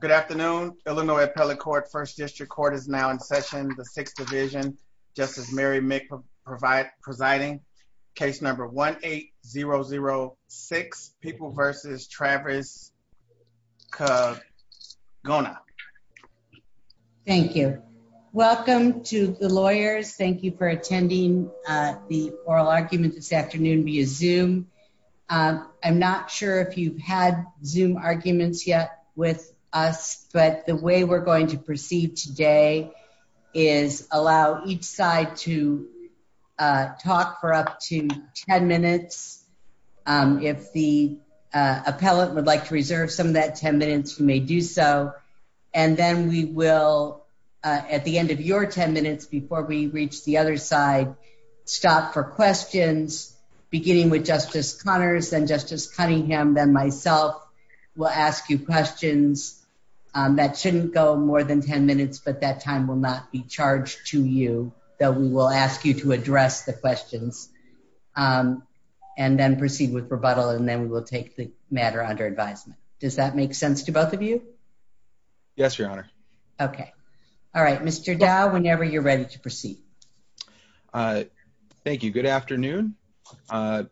Good afternoon. Illinois Appellate Court, First District Court is now in session. The Sixth Division, Justice Mary Meek presiding. Case number 1-8-0-0-6, People v. Travis Gona. Thank you. Welcome to the lawyers. Thank you for attending the oral argument this afternoon via but the way we're going to proceed today is allow each side to talk for up to 10 minutes. If the appellate would like to reserve some of that 10 minutes, you may do so. And then we will, at the end of your 10 minutes before we reach the other side, stop for questions, beginning with Justice Connors and Justice Cunningham, then myself will ask you questions. That shouldn't go more than 10 minutes, but that time will not be charged to you, though we will ask you to address the questions and then proceed with rebuttal, and then we will take the matter under advisement. Does that make sense to both of you? Yes, Your Honor. Okay. All right. Mr. Dow, whenever you're ready to proceed. Thank you. Good afternoon. I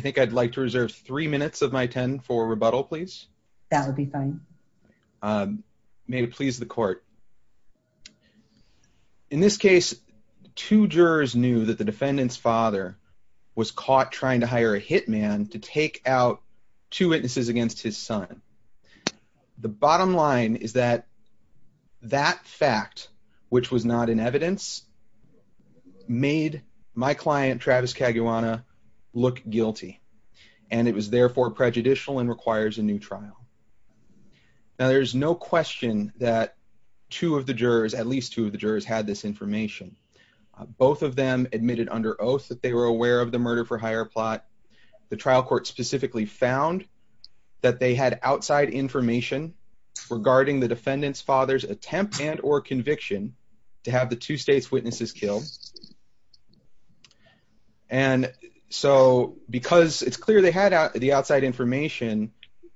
think I'd like to reserve three minutes of my 10 for rebuttal, please. That would be fine. May it please the court. In this case, two jurors knew that the defendant's father was caught trying to hire a hitman to take out two witnesses against his son. The bottom line is that that fact, which was not in evidence, made my client, Travis Caguana, look guilty, and it was therefore prejudicial and requires a new trial. Now, there's no question that two of the jurors, at least two of the jurors, had this information. Both of them admitted under oath that they were aware of the murder for hire plot. The trial court specifically found that they had outside information regarding the defendant's attempt and or conviction to have the two state's witnesses killed. And so, because it's clear they had the outside information,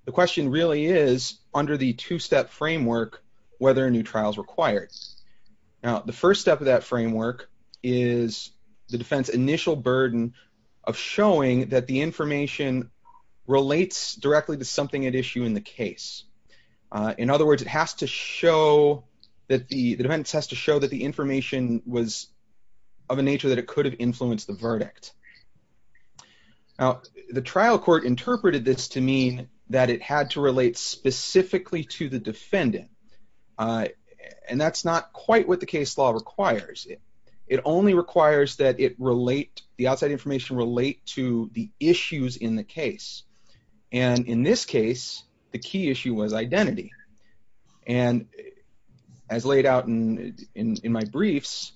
the question really is, under the two-step framework, whether a new trial is required. Now, the first step of that framework is the defense initial burden of showing that the information relates directly to something at issue in the case. In other words, it has to show that the defense has to show that the information was of a nature that it could have influenced the verdict. Now, the trial court interpreted this to mean that it had to relate specifically to the defendant, and that's not quite what the case law requires. It only requires that it relate, the outside information relate to the issues in the case. And in this case, the key issue was identity. And as laid out in my briefs,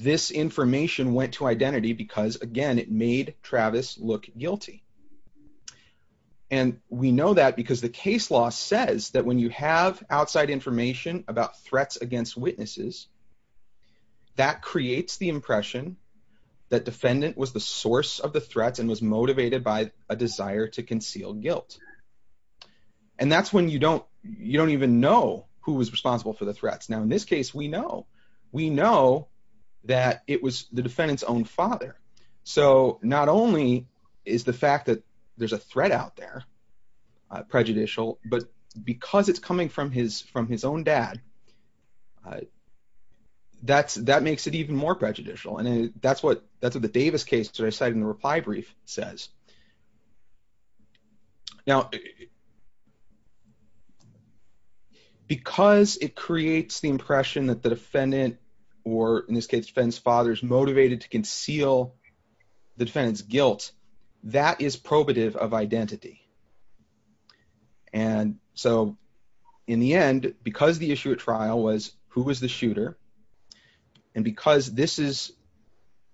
this information went to identity because, again, it made Travis look guilty. And we know that because the case law says that when you have outside information about threats against witnesses, that creates the impression that defendant was the source of the threats and was motivated by a desire to conceal guilt. And that's when you don't even know who was responsible for the threats. Now, in this case, we know. We know that it was the defendant's own father. So, not only is the fact that there's a threat out there prejudicial, but because it's coming from his own dad, that makes it even more prejudicial. And that's what the Davis case that I cited in the reply brief says. Now, because it creates the impression that the defendant or, in this case, the defendant's father is motivated to conceal the defendant's guilt, that is probative of identity. And so, in the end, because the issue at trial was who was the shooter, and because this is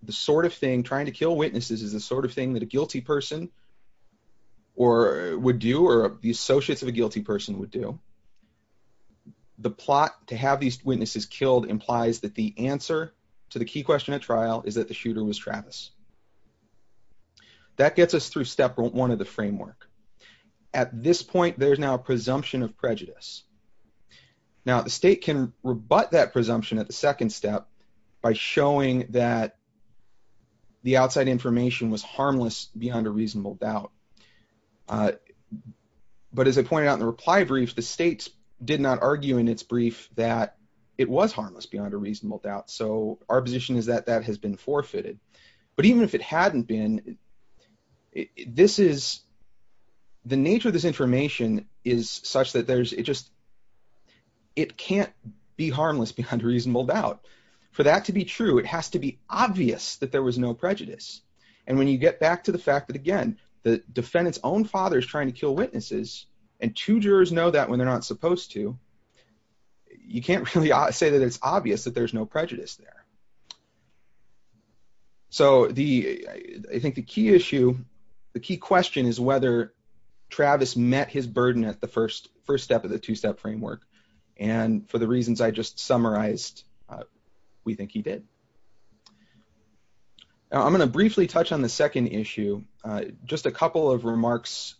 the sort of thing, trying to kill witnesses is the sort of thing that a guilty person would do or the associates of a guilty person would do, the plot to have these witnesses killed implies that the answer to the key question at trial is the shooter was Travis. That gets us through step one of the framework. At this point, there's now a presumption of prejudice. Now, the state can rebut that presumption at the second step by showing that the outside information was harmless beyond a reasonable doubt. But as I pointed out in the reply brief, the state did not argue in its brief that it was forfeited. But even if it hadn't been, the nature of this information is such that it can't be harmless beyond a reasonable doubt. For that to be true, it has to be obvious that there was no prejudice. And when you get back to the fact that, again, the defendant's own father is trying to kill witnesses, and two jurors know that when they're not supposed to, you can't really say that it's obvious that there's no prejudice there. So I think the key issue, the key question is whether Travis met his burden at the first step of the two-step framework. And for the reasons I just summarized, we think he did. I'm going to briefly touch on the second issue. Just a couple of remarks.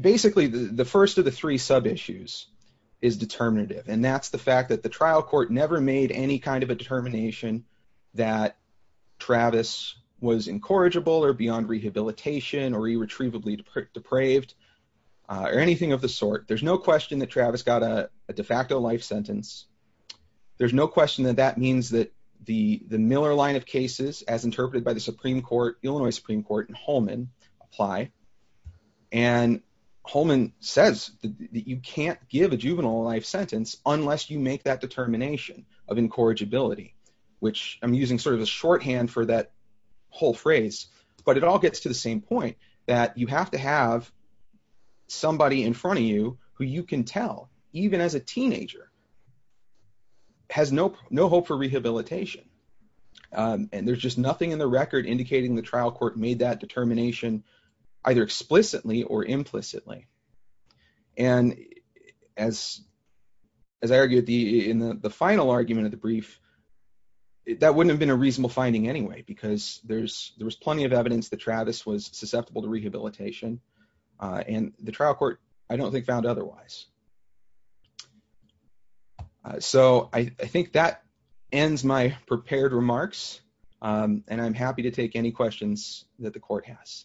Basically, the first of the three sub-issues is determinative. And that's the fact that the trial court never made any kind of a determination that Travis was incorrigible or beyond rehabilitation or irretrievably depraved or anything of the sort. There's no question that Travis got a de facto life sentence. There's no question that that means that the Miller line of Illinois Supreme Court and Holman apply. And Holman says that you can't give a juvenile life sentence unless you make that determination of incorrigibility, which I'm using sort of a shorthand for that whole phrase. But it all gets to the same point, that you have to have somebody in front of you who you can tell, even as a teenager, has no hope for rehabilitation. And there's just nothing in the record indicating the trial court made that determination either explicitly or implicitly. And as I argued in the final argument of the brief, that wouldn't have been a reasonable finding anyway, because there was plenty of evidence that Travis was susceptible to rehabilitation. And the trial court, I don't think, found otherwise. So I think that ends my prepared remarks. And I'm happy to take any questions that the court has.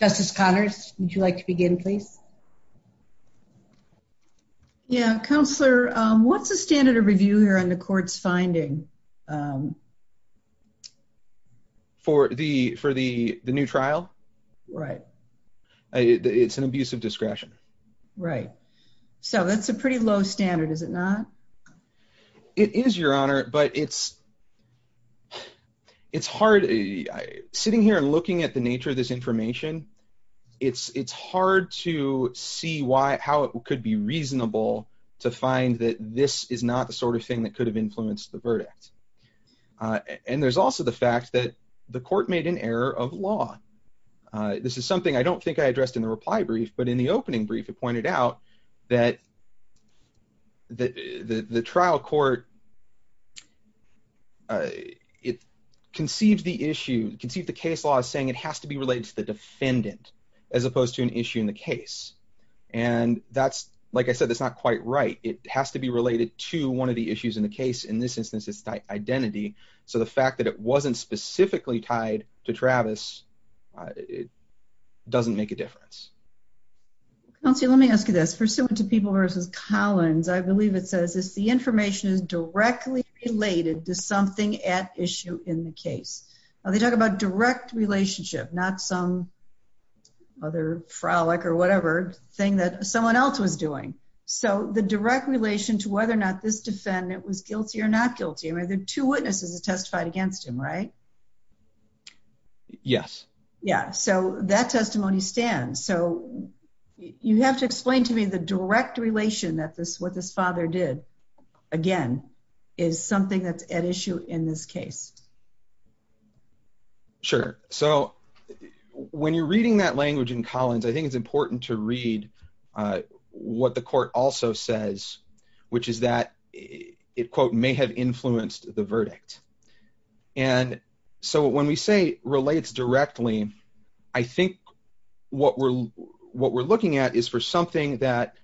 Justice Connors, would you like to begin, please? Yeah. Counselor, what's the standard of review here on the court's finding? For the new trial? Right. It's an abuse of discretion. Right. So that's a pretty low standard, is it not? It is, Your Honor, but it's hard. Sitting here and looking at the nature of this information, it's hard to see how it could be reasonable to find that this is not the sort of thing that could have influenced the verdict. And there's also the fact that the court made an error of law. This is something I don't think I addressed in the reply brief, but in the opening brief, it pointed out that the trial court, it conceived the issue, conceived the case law as saying it has to be related to the defendant, as opposed to an issue in the case. And that's, like I said, that's not quite right. It has to be related to one of the issues in the case. In this instance, identity. So the fact that it wasn't specifically tied to Travis, it doesn't make a difference. Counselor, let me ask you this. Pursuant to People v. Collins, I believe it says this, the information is directly related to something at issue in the case. They talk about direct relationship, not some other frolic or whatever thing that someone else was doing. So the direct relation to whether or not this defendant was guilty or not guilty, I mean, the two witnesses have testified against him, right? Yes. Yeah. So that testimony stands. So you have to explain to me the direct relation that this, what this father did, again, is something that's at issue in this case. Sure. So when you're reading that language in Collins, I think it's important to which is that it, quote, may have influenced the verdict. And so when we say relates directly, I think what we're, what we're looking at is for something that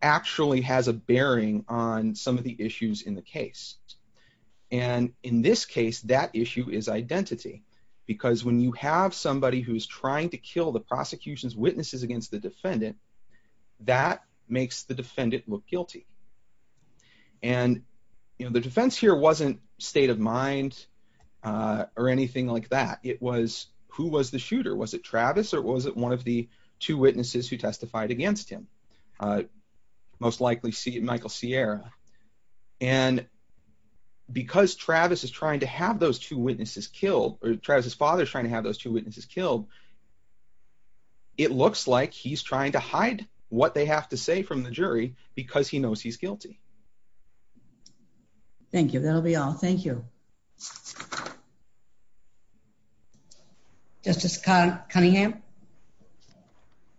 actually has a bearing on some of the issues in the case. And in this case, that issue is identity. Because when you have somebody who's trying to kill the prosecution's witnesses against the defendant, that makes the defendant look guilty. And, you know, the defense here wasn't state of mind, or anything like that. It was who was the shooter? Was it Travis? Or was it one of the two witnesses who testified against him? Most likely see Michael Sierra. And because Travis is trying to have those two witnesses killed, or Travis's father is trying to have those two witnesses killed. It looks like he's trying to have those two witnesses killed. Because he knows he's guilty. Thank you. That'll be all. Thank you. Justice Cunningham. Do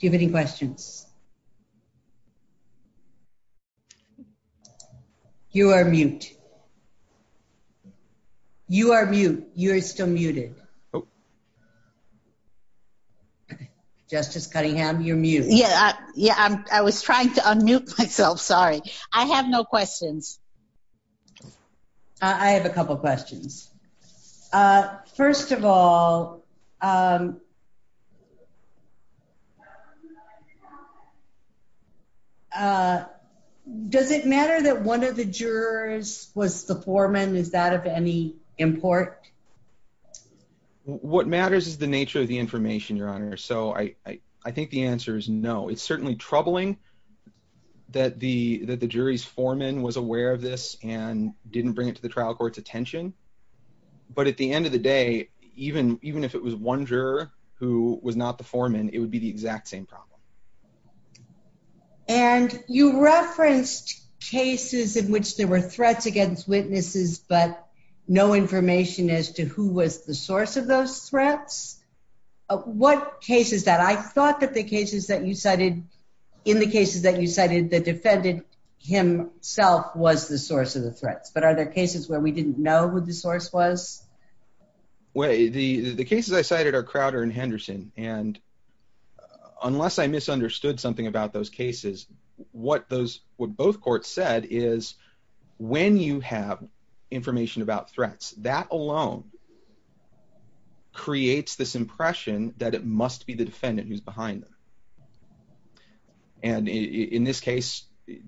you have any questions? You are mute. You are mute. You're still muted. Oh. Justice Cunningham, you're mute. Yeah. Yeah. I was trying to unmute myself. Sorry. I have no questions. I have a couple questions. First of all, does it matter that one of the jurors was the foreman? Is that of any import? What matters is the nature of the information, Your Honor. So I think the answer is no. It's certainly troubling that the jury's foreman was aware of this and didn't bring it to the trial court's attention. But at the end of the day, even if it was one juror who was not the foreman, it would be the exact same problem. And you referenced cases in which there were information as to who was the source of those threats. What cases that I thought that the cases that you cited in the cases that you cited that defended himself was the source of the threats. But are there cases where we didn't know who the source was? The cases I cited are Crowder and Henderson. And unless I misunderstood something about those cases, what those what both courts said is when you have information about threats, that alone creates this impression that it must be the defendant who's behind them. And in this case,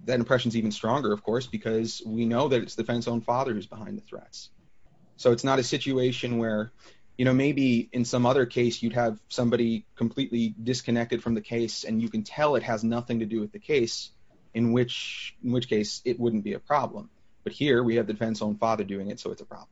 that impression is even stronger, of course, because we know that it's the defendant's own father who's behind the threats. So it's not a situation where, you know, maybe in some other case, you'd have somebody completely disconnected from the case, and you can tell it has nothing to do with the case, in which, in which case, it wouldn't be a problem. But here we have the defense own father doing it. So it's a problem.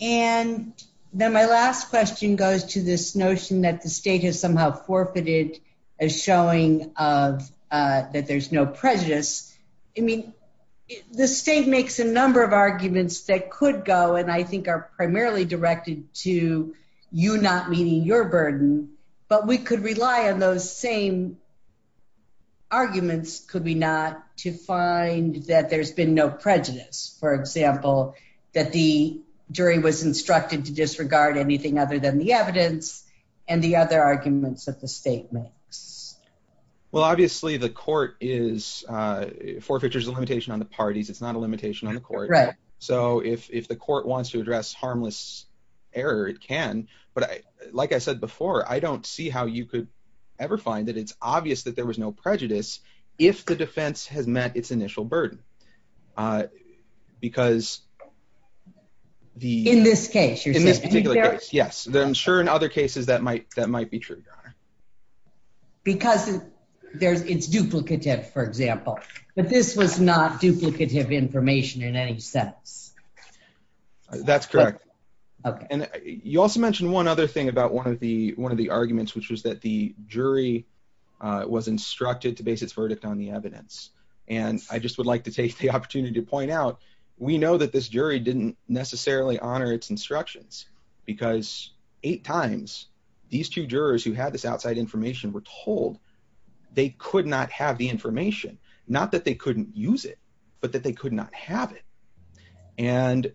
And then my last question goes to this notion that the state has somehow forfeited a showing of that there's no prejudice. I mean, the state makes a number of arguments that could go and I think are primarily directed to you not meeting your burden. But we could rely on those same arguments, could we not to find that there's been no prejudice, for example, that the jury was instructed to disregard anything other than the evidence and the other arguments that the state makes? Well, obviously, the court is forfeitures limitation on the parties. It's not a limitation on the court, right? So if the court wants to address harmless error, it can. But like I said before, I don't see how you could ever find that it's obvious that there was no prejudice. If the defense has met its initial burden. Because the in this case, yes, I'm sure in other cases, that might that might be true. Because there's it's duplicative, for example, but this was not duplicative information in any sense. That's correct. Okay. And you also mentioned one other thing about one of the one of the arguments, which was that the jury was instructed to base its verdict on the evidence. And I just would like to take the opportunity to point out, we know that this jury didn't necessarily honor its instructions. Because eight times, these two jurors who had this outside information were told they could not have the information, not that they couldn't use it. But that they could not have it. And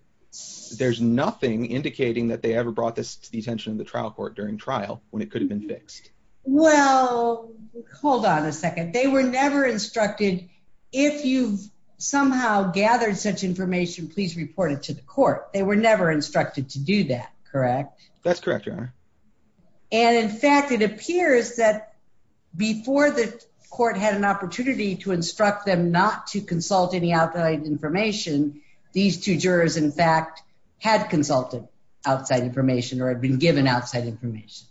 there's nothing indicating that they ever brought this to the attention of the trial court during trial when it could have been fixed. Well, hold on a second. They were never instructed. If you've somehow gathered such information, please report it to the court. They were never instructed to do that. Correct. That's correct. And in fact, it appears that before the court had an opportunity to instruct them not to consult any outside information. These two jurors, in fact, had consulted outside information or had been given outside information.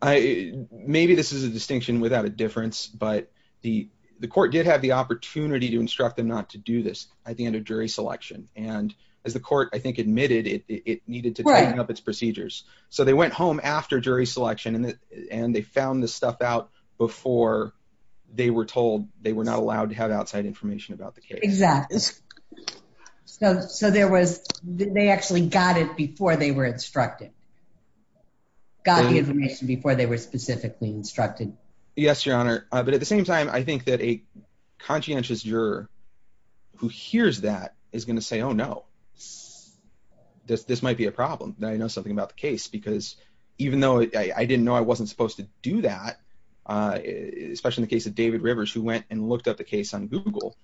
I maybe this is a distinction without a difference. But the the court did have the opportunity to instruct them not to do this at the end of jury selection. And as the court I think admitted it needed to tighten up its procedures. So they went home after jury selection and and they found this stuff out before they were told they were not allowed to have outside information about the case. Exactly. So so there was they actually got it before they were instructed. Got the information before they were specifically instructed. Yes, Your Honor. But at the same time, I think that a conscientious juror who hears that is going to say, oh, no, this might be a problem. I know something about the case because even though I didn't know I wasn't supposed to do that, especially in the case of David Rivers, who went and looked up the case on Google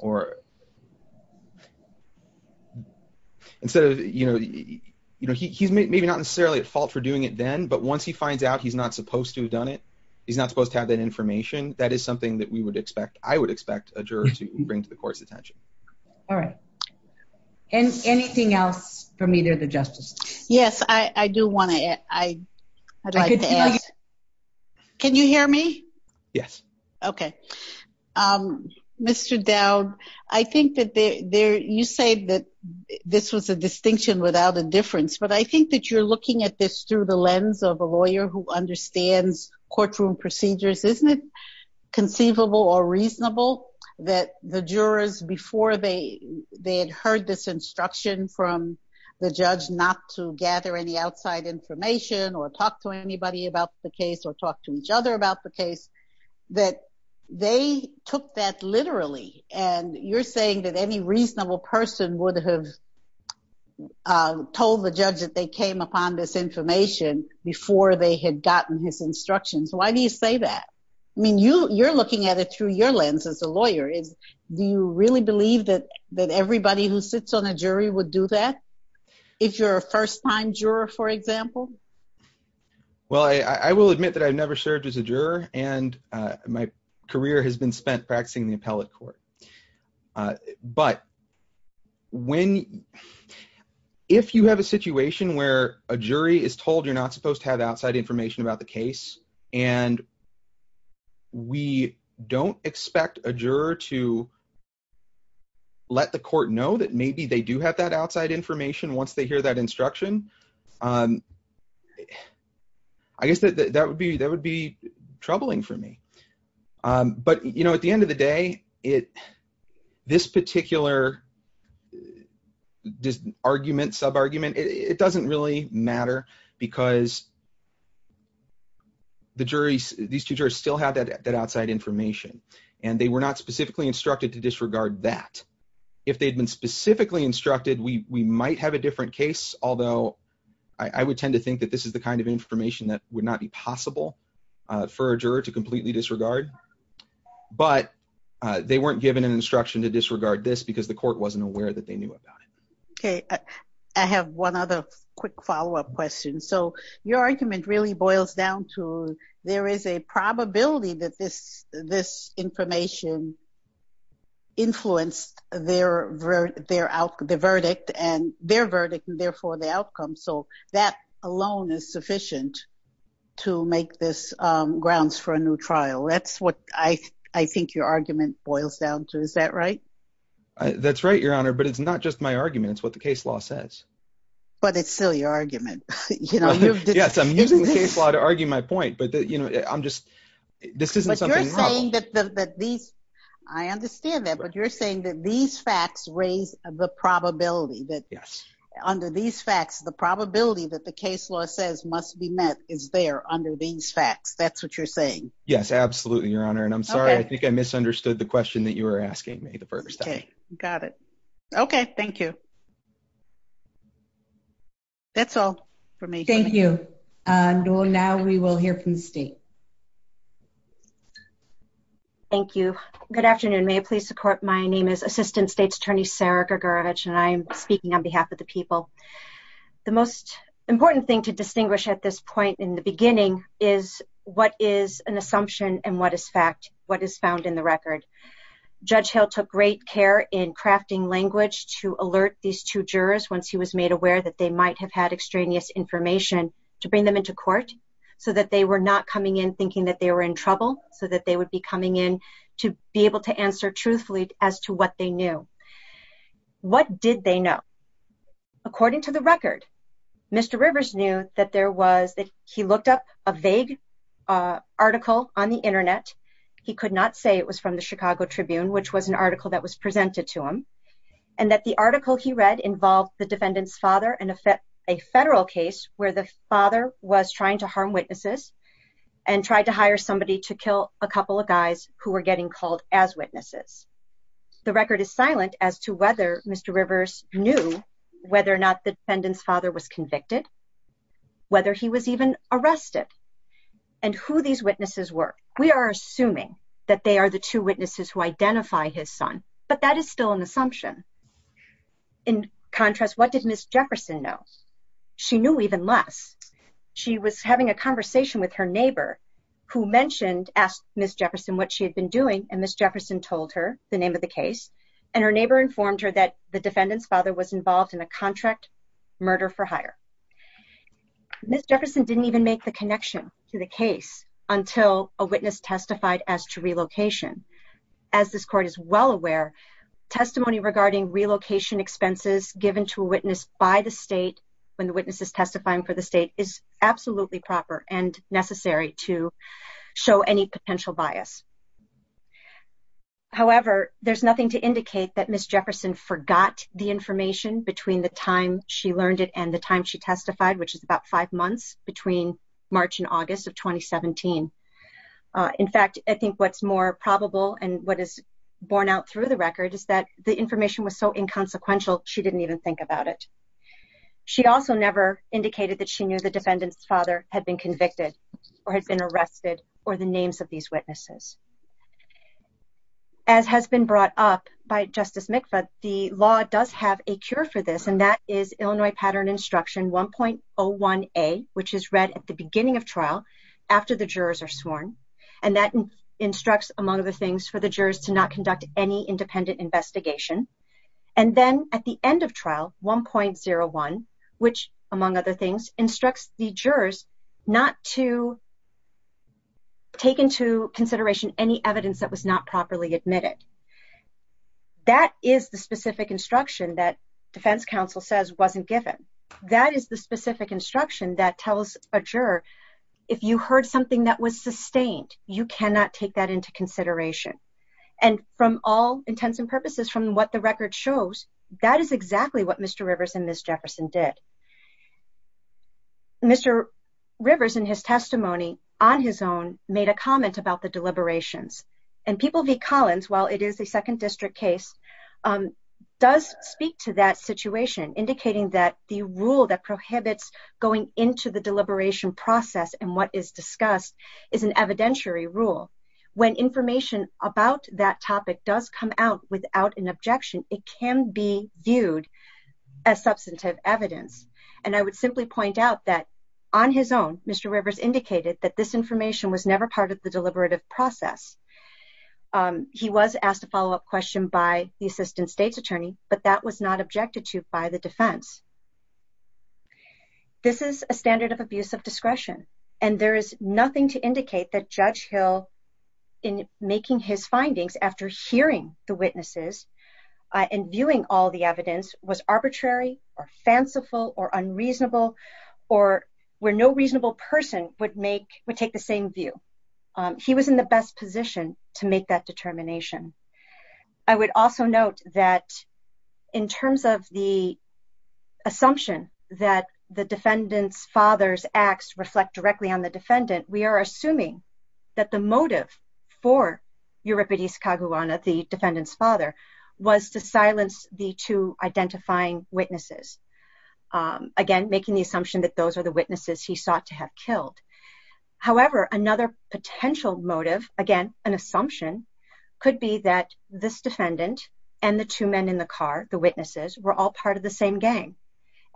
or. Instead of, you know, you know, he's maybe not necessarily at fault for doing it then, but once he finds out he's not supposed to have done it, he's not supposed to have that information, that is something that we would expect, I would expect a juror to bring to the court's attention. All right. And anything else from either of the justices? Yes, I do want I. Can you hear me? Yes. OK, Mr. Dowd, I think that there you say that this was a distinction without a difference. But I think that you're looking at this through the lens of a lawyer who understands courtroom procedures, isn't it conceivable or reasonable that the jurors before they had heard this instruction from the judge not to gather any outside information or talk to anybody about the case or talk to each other about the case, that they took that literally. And you're saying that any reasonable person would have told the judge that they came upon this information before they had gotten his instructions. Why do you say that? I mean, you're looking at it through your lens as a lawyer. Do you really believe that everybody who sits on a jury would do that? If you're a first time juror, for example? Well, I will admit that I've never served as a juror and my career has been spent practicing the appellate court. But if you have a situation where a jury is told you're not supposed to have outside information about the case, and we don't expect a juror to let the court know that maybe they do have that outside information once they hear that instruction, I guess that would be troubling for me. But at the end of the day, this particular argument, sub-argument, it doesn't really matter because these two jurors still have that outside information and they were not specifically instructed to disregard that. If they'd been specifically instructed, we might have a different case, although I would tend to think that this is the kind of information that would not be possible for a juror to completely disregard. But they weren't given an instruction to disregard this because the court wasn't aware that they knew about it. Okay. I have one other quick follow-up question. So your argument really boils down to there is a probability that this information influenced their verdict and therefore the outcome. So that alone is sufficient to make this grounds for a new trial. That's what I think your argument boils down to. Is that right? That's right, Your Honor. But it's not just my argument. It's what the case law says. But it's still your argument. Yes, I'm using the case law to argue my point. But this isn't something novel. But you're saying that these facts raise the probability that under these facts, the probability that the case law says must be met is there under these facts. That's what you're saying. Yes, absolutely, Your Honor. And I'm sorry, I think I misunderstood the question. Okay, got it. Okay, thank you. That's all for me. Thank you. And now we will hear from the state. Thank you. Good afternoon. May it please the court, my name is Assistant State's Attorney Sarah Gagarevich and I am speaking on behalf of the people. The most important thing to distinguish at this point in the beginning is what is an assumption and what is fact, what is found in the record. Judge Hill took great care in crafting language to alert these two jurors once he was made aware that they might have had extraneous information to bring them into court so that they were not coming in thinking that they were in trouble so that they would be coming in to be able to answer truthfully as to what they knew. What did they know? According to the record, Mr. Rivers knew that there was that he looked up a vague article on the internet. He could not say it was from the Chicago Tribune, which was an article that was presented to him and that the article he read involved the defendant's father and a federal case where the father was trying to harm witnesses and tried to hire somebody to kill a couple of guys who were getting called as witnesses. The record is silent as to whether Mr. Rivers knew whether or not the defendant's father was convicted, whether he was even arrested, and who these witnesses were. We are assuming that they are the two witnesses who identify his son, but that is still an assumption. In contrast, what did Ms. Jefferson know? She knew even less. She was having a conversation with her neighbor who mentioned, asked Ms. Jefferson what she had been doing, and Ms. Jefferson told her the name of the case, and her neighbor informed her that the defendant's father was involved in a contract murder for hire. Ms. Jefferson didn't even make the connection to the relocation. As this court is well aware, testimony regarding relocation expenses given to a witness by the state when the witness is testifying for the state is absolutely proper and necessary to show any potential bias. However, there's nothing to indicate that Ms. Jefferson forgot the information between the time she learned it and the time she testified, which is about five months between March and August of 2017. In fact, I think what's more probable and what is born out through the record is that the information was so inconsequential she didn't even think about it. She also never indicated that she knew the defendant's father had been convicted or had been arrested or the names of these witnesses. As has been brought up by Justice McFadden, the law does have a cure for this, and that is Illinois Pattern Instruction 1.01a, which is read at the beginning of trial after the jurors are sworn, and that instructs, among other things, for the jurors to not conduct any independent investigation. And then at the end of trial, 1.01, which, among other things, instructs the jurors not to take into consideration any evidence that was not properly admitted. That is the specific instruction that defense counsel says wasn't given. That is the specific instruction that tells a juror, if you heard something that was sustained, you cannot take that into consideration. And from all intents and purposes, from what the record shows, that is exactly what Mr. Rivers and Ms. Jefferson did. Mr. Rivers, in his testimony on his own, made a comment about the deliberations, and People v. Collins, while it is a second district case, does speak to that situation, indicating that the rule that prohibits going into the deliberation process and what is discussed is an evidentiary rule. When information about that topic does come out without an objection, it can be viewed as substantive evidence. And I would simply point out that on his own, Mr. Rivers indicated that this information was never part of the deliberative process. He was asked a follow-up question by the assistant state's attorney, but that was not objected to by the defense. This is a standard of abuse of discretion, and there is nothing to indicate that Judge Hill, in making his findings after hearing the witnesses and viewing all the evidence, was arbitrary or fanciful or unreasonable or where no reasonable person would take the same view. He was in the best position to make that determination. I would also note that, in terms of the assumption that the defendant's father's acts reflect directly on the defendant, we are assuming that the motive for Euripides Kaguana, the defendant's father, was to silence the two identifying witnesses. Again, making the assumption that those are witnesses he sought to have killed. However, another potential motive, again, an assumption, could be that this defendant and the two men in the car, the witnesses, were all part of the same gang.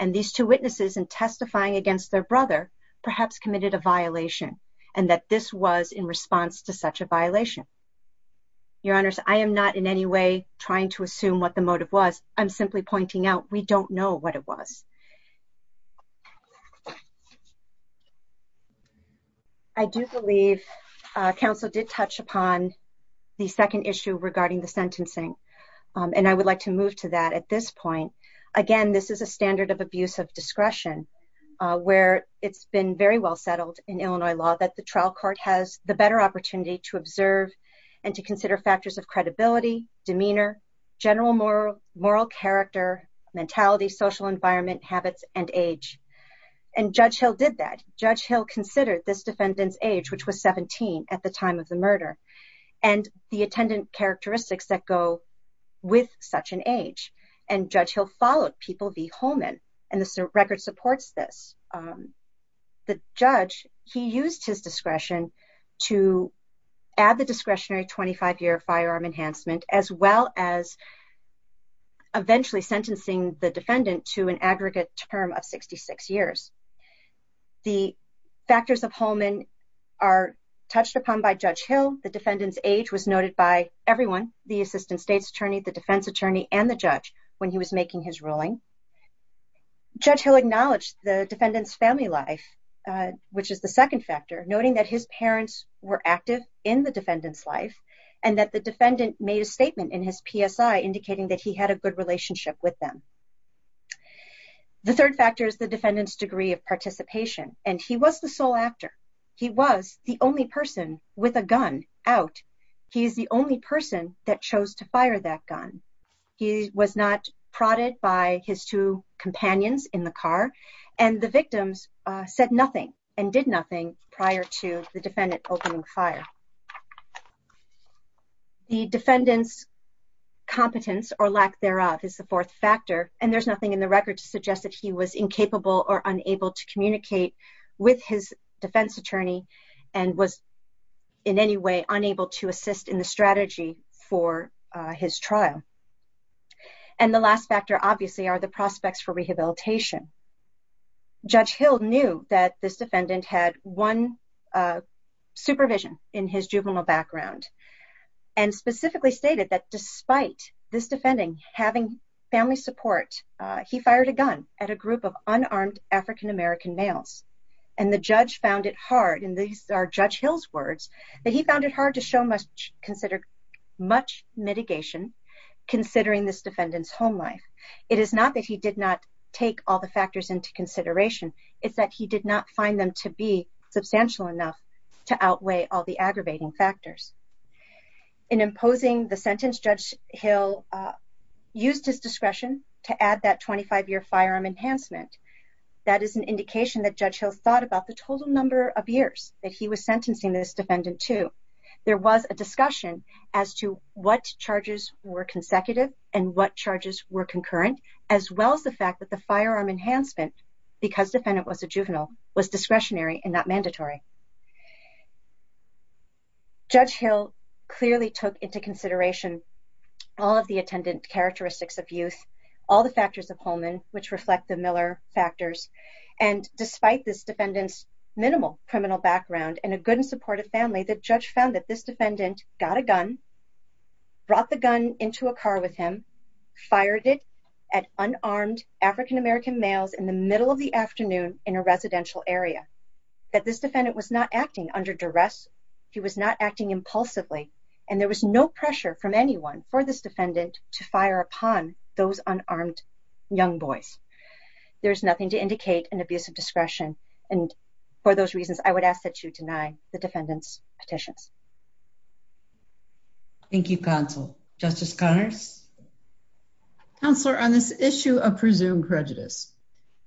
And these two witnesses, in testifying against their brother, perhaps committed a violation, and that this was in response to such a violation. Your Honors, I am not in any way trying to assume what the motive was. I'm simply pointing out we don't know what it was. I do believe counsel did touch upon the second issue regarding the sentencing. And I would like to move to that at this point. Again, this is a standard of abuse of discretion, where it's been very well settled in Illinois law that the trial court has the better opportunity to observe and to consider factors of credibility, demeanor, general moral character, mentality, social environment, habits, and age. And Judge Hill did that. Judge Hill considered this defendant's age, which was 17 at the time of the murder, and the attendant characteristics that go with such an age. And Judge Hill followed people v. Holman. And the record supports this. The judge, he used his discretion to add the discretionary 25-year firearm enhancement, as well as eventually sentencing the defendant to an aggregate term of 66 years. The factors of Holman are touched upon by Judge Hill. The defendant's age was noted by everyone, the assistant state's attorney, the defense attorney, and the judge, when he was making his ruling. Judge Hill acknowledged the defendant's family life, which is the second factor, noting that his parents were active in the defendant's life, and that the defendant made a statement in his PSI indicating that he had a good relationship with them. The third factor is the defendant's degree of participation, and he was the sole actor. He was the only person with a gun out. He's the only person that chose to fire that gun. He was not prodded by his two companions in the car, and the victims said nothing and did nothing prior to the defendant opening fire. The defendant's competence, or lack thereof, is the fourth factor, and there's nothing in the record to suggest that he was incapable or unable to communicate with his defense attorney, and was in any way unable to assist in the strategy for his trial. And the last factor, obviously, are the prospects for rehabilitation. Judge Hill knew that this defendant had one supervision in his juvenile background, and specifically stated that despite this defending having family support, he fired a gun at a group of unarmed African-American males, and the judge found it hard, and these are Judge Hill's words, that he found it hard to show much mitigation considering this defendant's home life. It is not that he did not take all the factors into consideration. It's that he did not find them to be substantial enough to outweigh all the aggravating factors. In imposing the sentence, Judge Hill used his discretion to add that 25-year firearm enhancement. That is an indication that Judge Hill thought about the total number of years that he was sentencing this defendant to. There was a discussion as to what charges were consecutive and what charges were concurrent, as well as the fact that the firearm enhancement, because defendant was a juvenile, was discretionary and not mandatory. Judge Hill clearly took into consideration all of the attendant characteristics of youth, all the factors of Holman, which reflect the Miller factors, and despite this defendant's criminal background and a good and supportive family, the judge found that this defendant got a gun, brought the gun into a car with him, fired it at unarmed African-American males in the middle of the afternoon in a residential area, that this defendant was not acting under duress, he was not acting impulsively, and there was no pressure from anyone for this defendant to fire upon those unarmed young boys. There's nothing to indicate an abuse of discretion, and for those reasons, I would ask that you deny the defendant's petitions. Thank you, counsel. Justice Connors? Counselor, on this issue of presumed prejudice,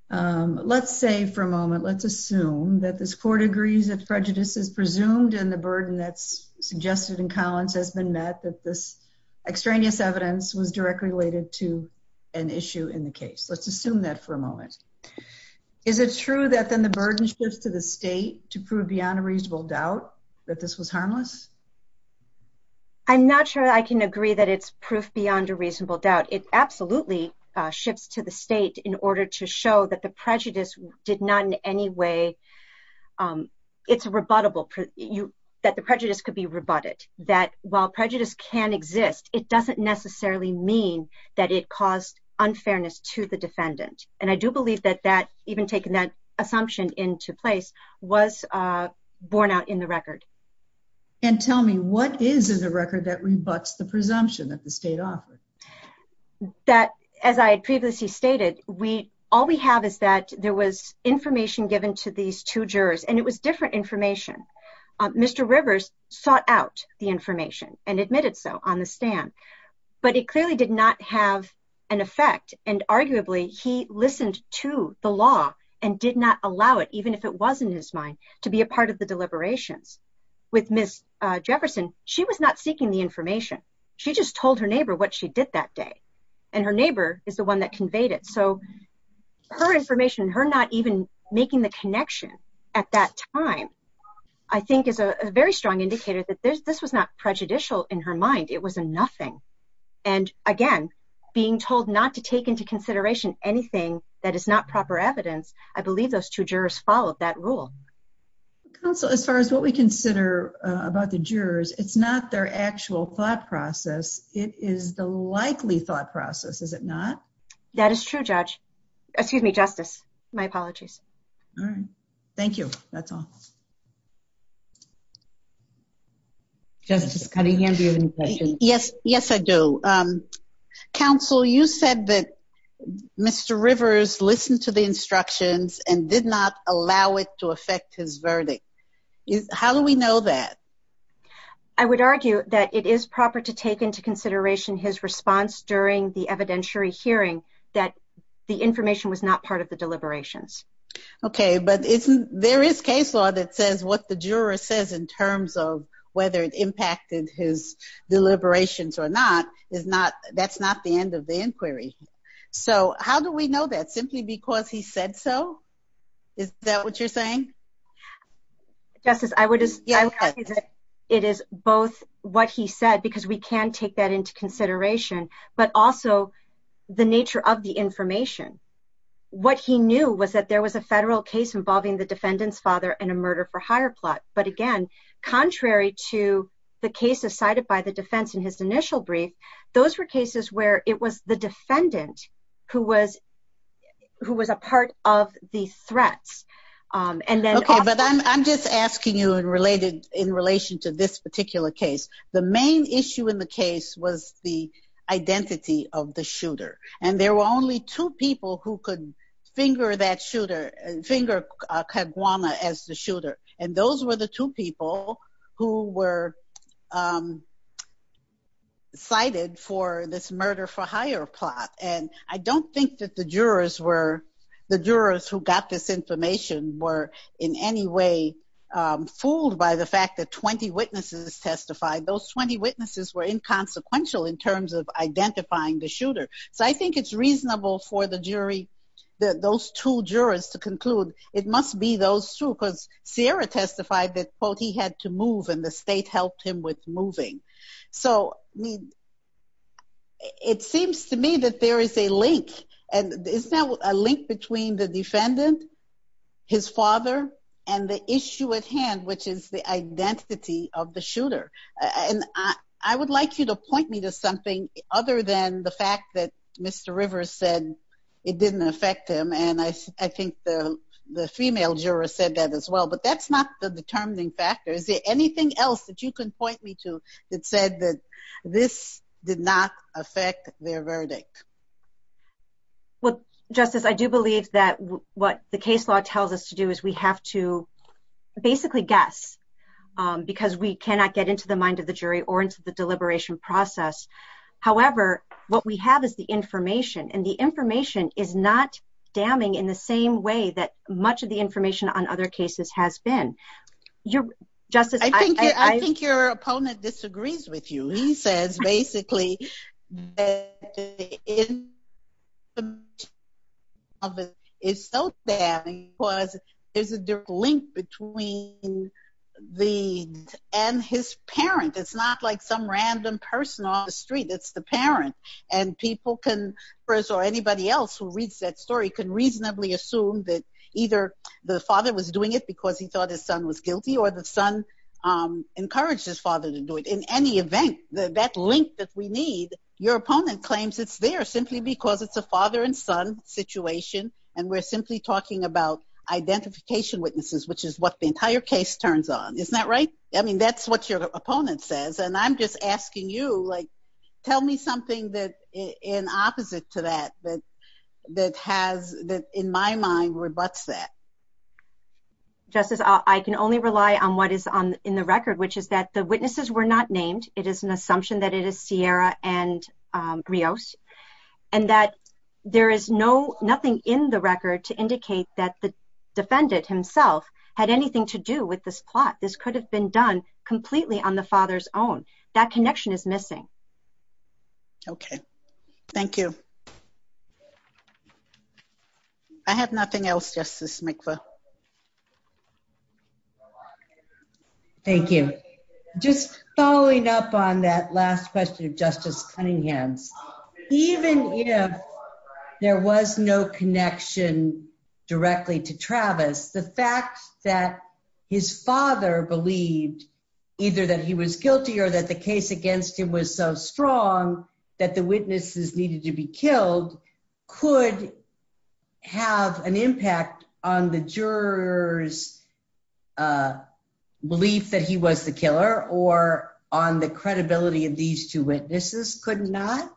let's say for a moment, let's assume that this court agrees that prejudice is presumed and the burden that's suggested in Collins has been met, that this extraneous evidence was directly related to an issue in the case. Let's assume that for a moment. Is it true that then the burden shifts to the state to prove beyond a reasonable doubt that this was harmless? I'm not sure I can agree that it's proof beyond a reasonable doubt. It absolutely shifts to the state in order to show that the prejudice did not in any way, it's a rebuttable, that the prejudice could be rebutted, that while prejudice can exist, it doesn't necessarily mean that it caused unfairness to the defendant, and I do believe that even taking that assumption into place was borne out in the record. And tell me, what is in the record that rebuts the presumption that the state offered? That, as I had previously stated, all we have is that there was information given to these two jurors, and it was different and admitted so on the stand, but it clearly did not have an effect, and arguably he listened to the law and did not allow it, even if it was in his mind, to be a part of the deliberations. With Ms. Jefferson, she was not seeking the information. She just told her neighbor what she did that day, and her neighbor is the one that conveyed it, so her information, her not even making the connection at that time, I think is a very strong indicator that this was not prejudicial in her mind. It was a nothing. And again, being told not to take into consideration anything that is not proper evidence, I believe those two jurors followed that rule. Counsel, as far as what we consider about the jurors, it's not their actual thought process. It is the likely thought process, is it not? That is true, Judge. Excuse me, Justice. My apologies. All right. Thank you. That's all. Justice Cunningham, do you have any questions? Yes. Yes, I do. Counsel, you said that Mr. Rivers listened to the instructions and did not allow it to affect his verdict. How do we know that? I would argue that it is proper to take into consideration his response during the evidentiary hearing that the information was not part of the deliberations. Okay. But there is case law that says what the juror says in terms of whether it impacted his deliberations or not, that's not the end of the inquiry. So how do we know that? Simply because he said so? Is that what you're saying? Justice, I would argue that it is both what he said, because we can take that into consideration, but also the nature of the information. What he knew was that there was a federal case involving the defendant's father in a murder-for-hire plot. But again, contrary to the cases cited by the defense in his initial brief, those were cases where it was the defendant who was a part of the threats. Okay, but I'm just asking you in relation to this particular case. The main issue in the case was the identity of the shooter. And there were only two people who could finger that shooter, finger Kaguana as the shooter. And those were the two people who were cited for this murder-for-hire plot. And I don't think that the jurors who got this information were in any way fooled by the fact that 20 witnesses testified. Those 20 witnesses were inconsequential in terms of identifying the shooter. So I think it's reasonable for those two jurors to conclude it must be those two, because Sierra testified that, quote, he had to move and the state helped him with moving. So it seems to me that there is a link. And is there a link between the defendant, his father, and the issue at hand, which is the identity of the shooter? And I would like you to point me to something other than the fact that Mr. Rivers said it didn't affect him. And I think the female juror said that as well, but that's not the determining factor. Is there anything else that you can point me to that said that this did not affect their verdict? Well, Justice, I do believe that what the case law tells us to do is we have to basically guess, because we cannot get into the mind of the jury or into the deliberation process. However, what we have is the information, and the information is not damning in the same way that he says basically that the information is so damning because there's a link between the defendant and his parent. It's not like some random person on the street. It's the parent. And people can, or anybody else who reads that story, can reasonably assume that either the father was doing it because he thought his son was guilty or the son encouraged his father to do it. In any event, that link that we need, your opponent claims it's there simply because it's a father and son situation, and we're simply talking about identification witnesses, which is what the entire case turns on. Isn't that right? I mean, that's what your opponent says. And I'm just asking you, tell me something that in opposite to that, that in my mind rebuts that. Justice, I can only rely on what is in the record, which is that the witnesses were not named. It is an assumption that it is Sierra and Rios, and that there is no, nothing in the record to indicate that the defendant himself had anything to do with this plot. This could have been done completely on the father's own. That connection is missing. Okay. Thank you. I have nothing else, Justice Mikva. Thank you. Just following up on that last question of Justice Cunningham's, even if there was no connection directly to Travis, the fact that his father believed either that he was guilty or that the case against him was so strong that the witnesses needed to be killed could have an impact on the jurors' belief that he was the killer, or on the credibility of these two witnesses could not?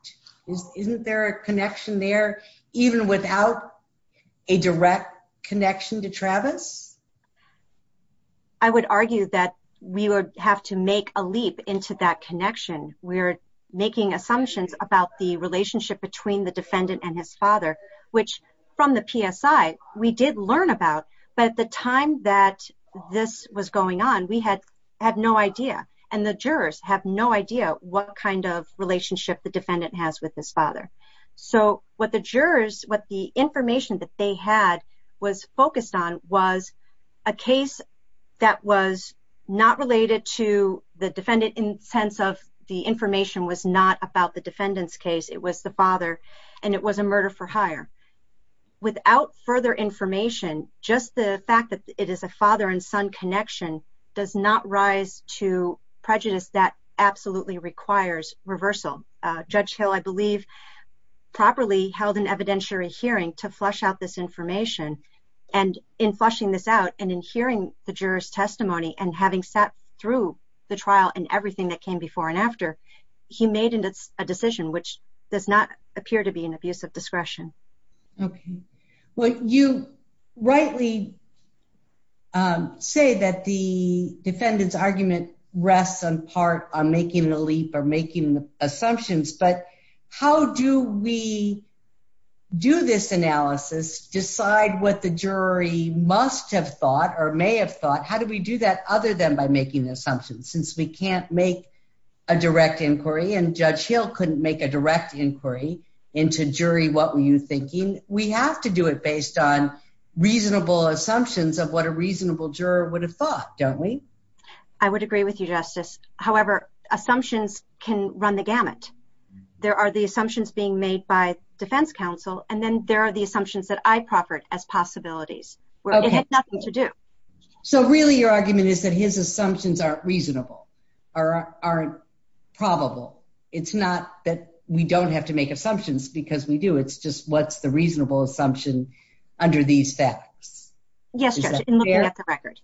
Isn't there a connection there, even without a direct connection to Travis? I would argue that we would have to make a leap into that connection. We're making assumptions about the relationship between the defendant and his father, which from the PSI, we did learn about. But at the time that this was going on, we had no idea, and the jurors have no idea what kind of relationship the defendant has with his father. So, what the jurors, what the information that they had was focused on was a case that was not related to the defendant in the sense of the information was not about the defendant's case. It was the father, and it was a murder for hire. Without further information, just the fact that it is a father and son connection does not rise to prejudice that absolutely requires reversal. Judge Hill, I believe, properly held an evidentiary hearing to flush out this information, and in flushing this out and in hearing the juror's testimony and having sat through the trial and everything that came before and after, he made a decision which does not appear to be an abuse of discretion. Okay. Well, you rightly say that the defendant's argument rests in part on making the leap or making the assumptions, but how do we do this analysis, decide what the jury must have thought or may have thought? How do we do that other than by making assumptions? Since we can't make a direct inquiry, and Judge Hill couldn't make a direct inquiry into, jury, what were you thinking? We have to do it based on reasonable assumptions of what a reasonable juror would have thought, don't we? I would agree with you, Justice. However, assumptions can run the gamut. There are the assumptions being made by defense counsel, and then there are the assumptions that I proffered as possibilities. So really, your argument is that his assumptions aren't reasonable or aren't probable. It's not that we don't have to make assumptions because we do. It's just what's the reasonable assumption under these facts? Yes, Judge, in looking at the record.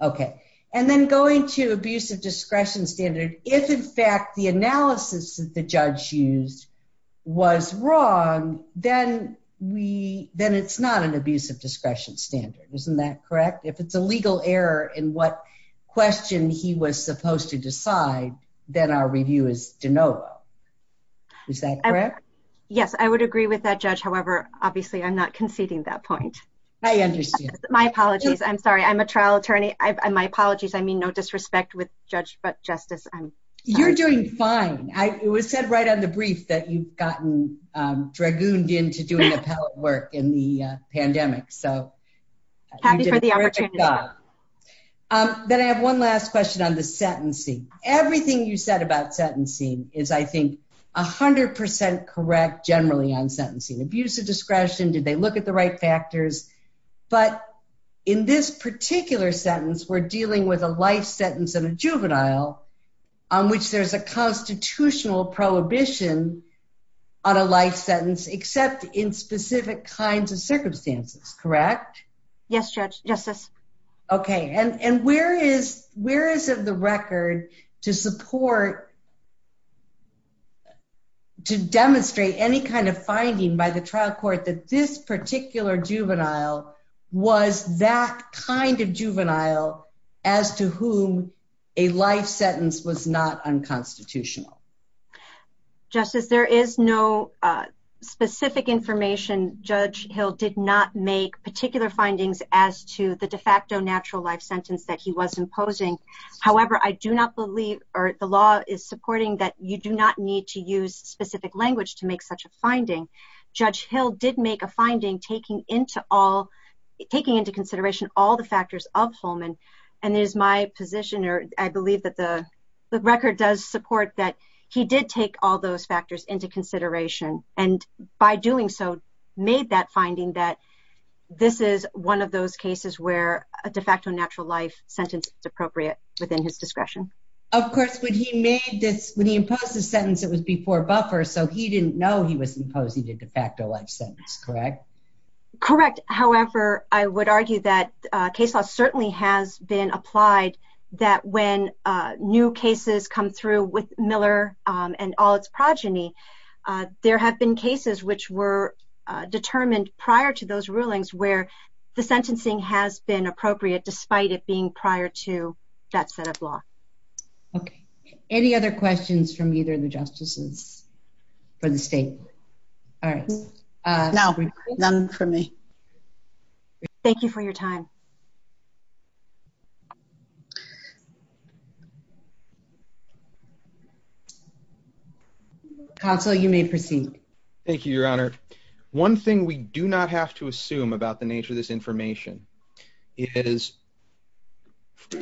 Okay. And then going to abuse of discretion standard, if in fact the analysis that the judge used was wrong, then it's not an abuse of discretion standard. Isn't that correct? If it's a legal error in what question he was supposed to decide, then our review is de novo. Is that correct? Yes, I would agree with that, Judge. However, obviously, I'm not conceding that point. I understand. My apologies. I'm sorry. I'm a trial attorney. My apologies. I mean, no disrespect with Judge, but Justice. You're doing fine. It was said right on the brief that you've gotten dragooned into doing appellate work in the pandemic. So happy for the opportunity. Then I have one last question on the sentencing. Everything you said about sentencing is, I think, 100% correct generally on sentencing. Abuse of discretion. Did they look at the right factors? But in this particular sentence, we're dealing with a life sentence in a juvenile on which there's a constitutional prohibition on a life sentence except in specific kinds of circumstances. Correct? Yes, Judge. Justice. Okay. And where is the record to support, to demonstrate any kind of finding by the trial court that this particular juvenile was that kind of juvenile as to whom a life sentence was not unconstitutional? Justice, there is no specific information. Judge Hill did not make particular findings as to the however, I do not believe or the law is supporting that you do not need to use specific language to make such a finding. Judge Hill did make a finding taking into consideration all the factors of Holman. And there's my position, or I believe that the record does support that he did take all those factors into consideration and by doing so made that finding that this is one of those sentences appropriate within his discretion. Of course, when he made this, when he imposed the sentence, it was before buffer. So he didn't know he was imposing a de facto life sentence, correct? Correct. However, I would argue that case law certainly has been applied that when new cases come through with Miller and all its progeny, there have been cases which were determined prior to those rulings where the sentencing has been appropriate despite it prior to that set of law. Okay. Any other questions from either of the justices for the state? All right. None for me. Thank you for your time. Counsel, you may proceed. Thank you, Your Honor. One thing we do not have to assume about the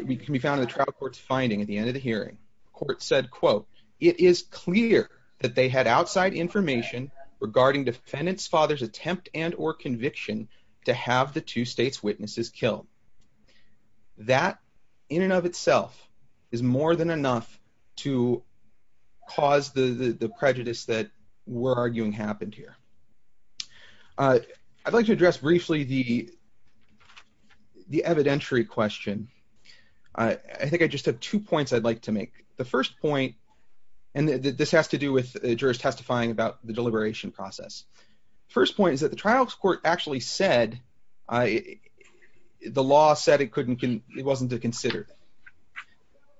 we can be found in the trial court's finding at the end of the hearing. Court said, quote, it is clear that they had outside information regarding defendant's father's attempt and or conviction to have the two states witnesses killed. That in and of itself is more than enough to cause the prejudice that we're arguing happened here. I'd like to address briefly the evidentiary question. I think I just have two points I'd like to make. The first point, and this has to do with jurors testifying about the deliberation process. First point is that the trial court actually said the law said it wasn't to consider.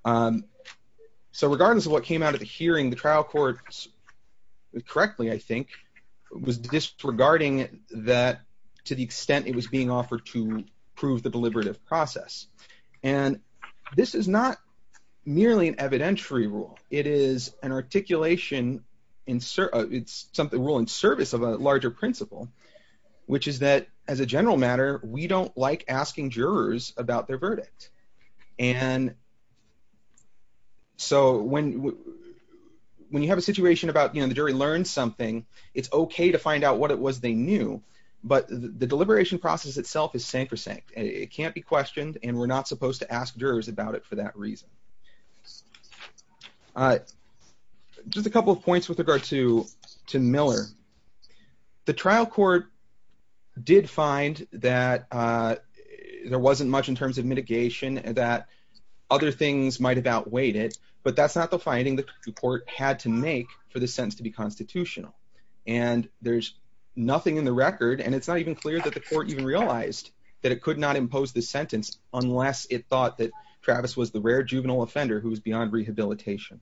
So regardless of what came out of the hearing, the trial court, correctly, I think, was disregarding that to the extent it was being to prove the deliberative process. And this is not merely an evidentiary rule. It is an articulation. It's something we're in service of a larger principle, which is that as a general matter, we don't like asking jurors about their verdict. And so when you have a situation about the jury learned something, it's okay to find out what it was they knew. But the deliberation process itself is sacrosanct. It can't be questioned, and we're not supposed to ask jurors about it for that reason. Just a couple of points with regard to Miller. The trial court did find that there wasn't much in terms of mitigation and that other things might have outweighed it. But that's not the report had to make for the sentence to be constitutional. And there's nothing in the record. And it's not even clear that the court even realized that it could not impose the sentence unless it thought that Travis was the rare juvenile offender who was beyond rehabilitation.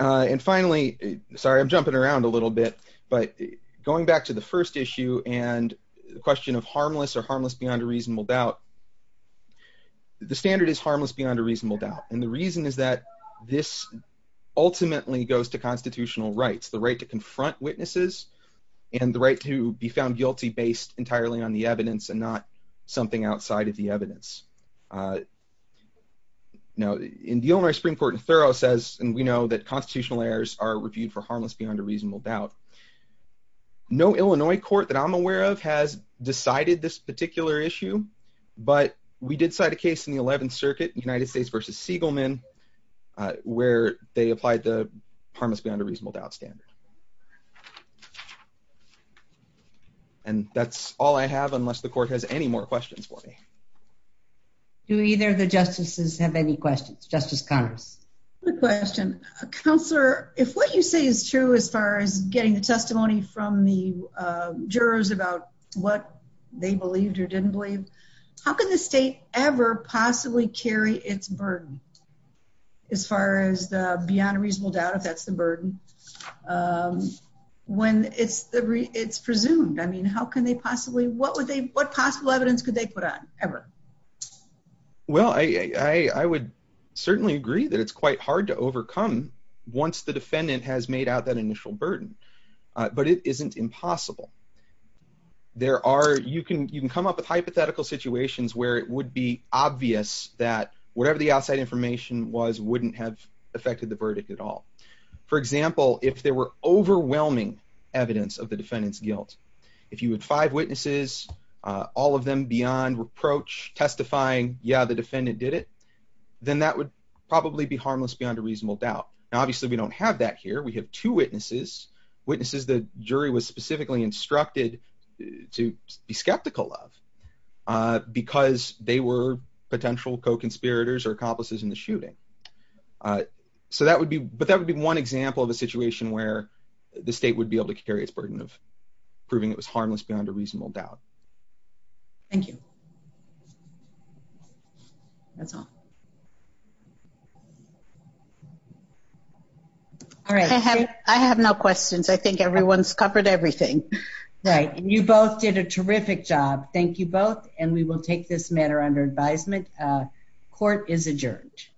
And finally, sorry, I'm jumping around a little bit. But going back to the first issue and the question of harmless or harmless beyond a reasonable doubt, the standard is harmless beyond a reasonable doubt. And the reason is that this ultimately goes to constitutional rights, the right to confront witnesses, and the right to be found guilty based entirely on the evidence and not something outside of the evidence. Now, in the only Supreme Court in thorough says, and we know that constitutional errors are reviewed for harmless beyond a reasonable doubt. No Illinois court that I'm aware of has decided this particular issue. But we did cite a case in the 11th Circuit United States versus Siegelman, where they applied the harmless beyond a reasonable doubt standard. And that's all I have, unless the court has any more questions for me. Do either of the justices have any questions? Justice Congress? Good question. Counselor, if what you say is true, as far as getting the testimony from the they believed or didn't believe, how can the state ever possibly carry its burden? As far as the beyond a reasonable doubt, if that's the burden? When it's the it's presumed, I mean, how can they possibly what would they what possible evidence could they put on ever? Well, I would certainly agree that it's quite hard to overcome. Once the defendant has made out that initial burden, but it isn't impossible. There are you can you can come up with hypothetical situations where it would be obvious that whatever the outside information was wouldn't have affected the verdict at all. For example, if there were overwhelming evidence of the defendant's guilt, if you had five witnesses, all of them beyond reproach testifying, yeah, the defendant did it, then that would probably be harmless beyond a reasonable doubt. Obviously, we don't have that here. We have two witnesses, witnesses, the jury was specifically instructed to be skeptical of because they were potential co conspirators or accomplices in the shooting. So that would be but that would be one example of a situation where the state would be able to carry its burden of proving it was harmless under reasonable doubt. Thank you. That's all. All right. I have no questions. I think everyone's covered everything. Right. You both did a terrific job. Thank you both. And we will take this matter under advisement. Court is adjourned.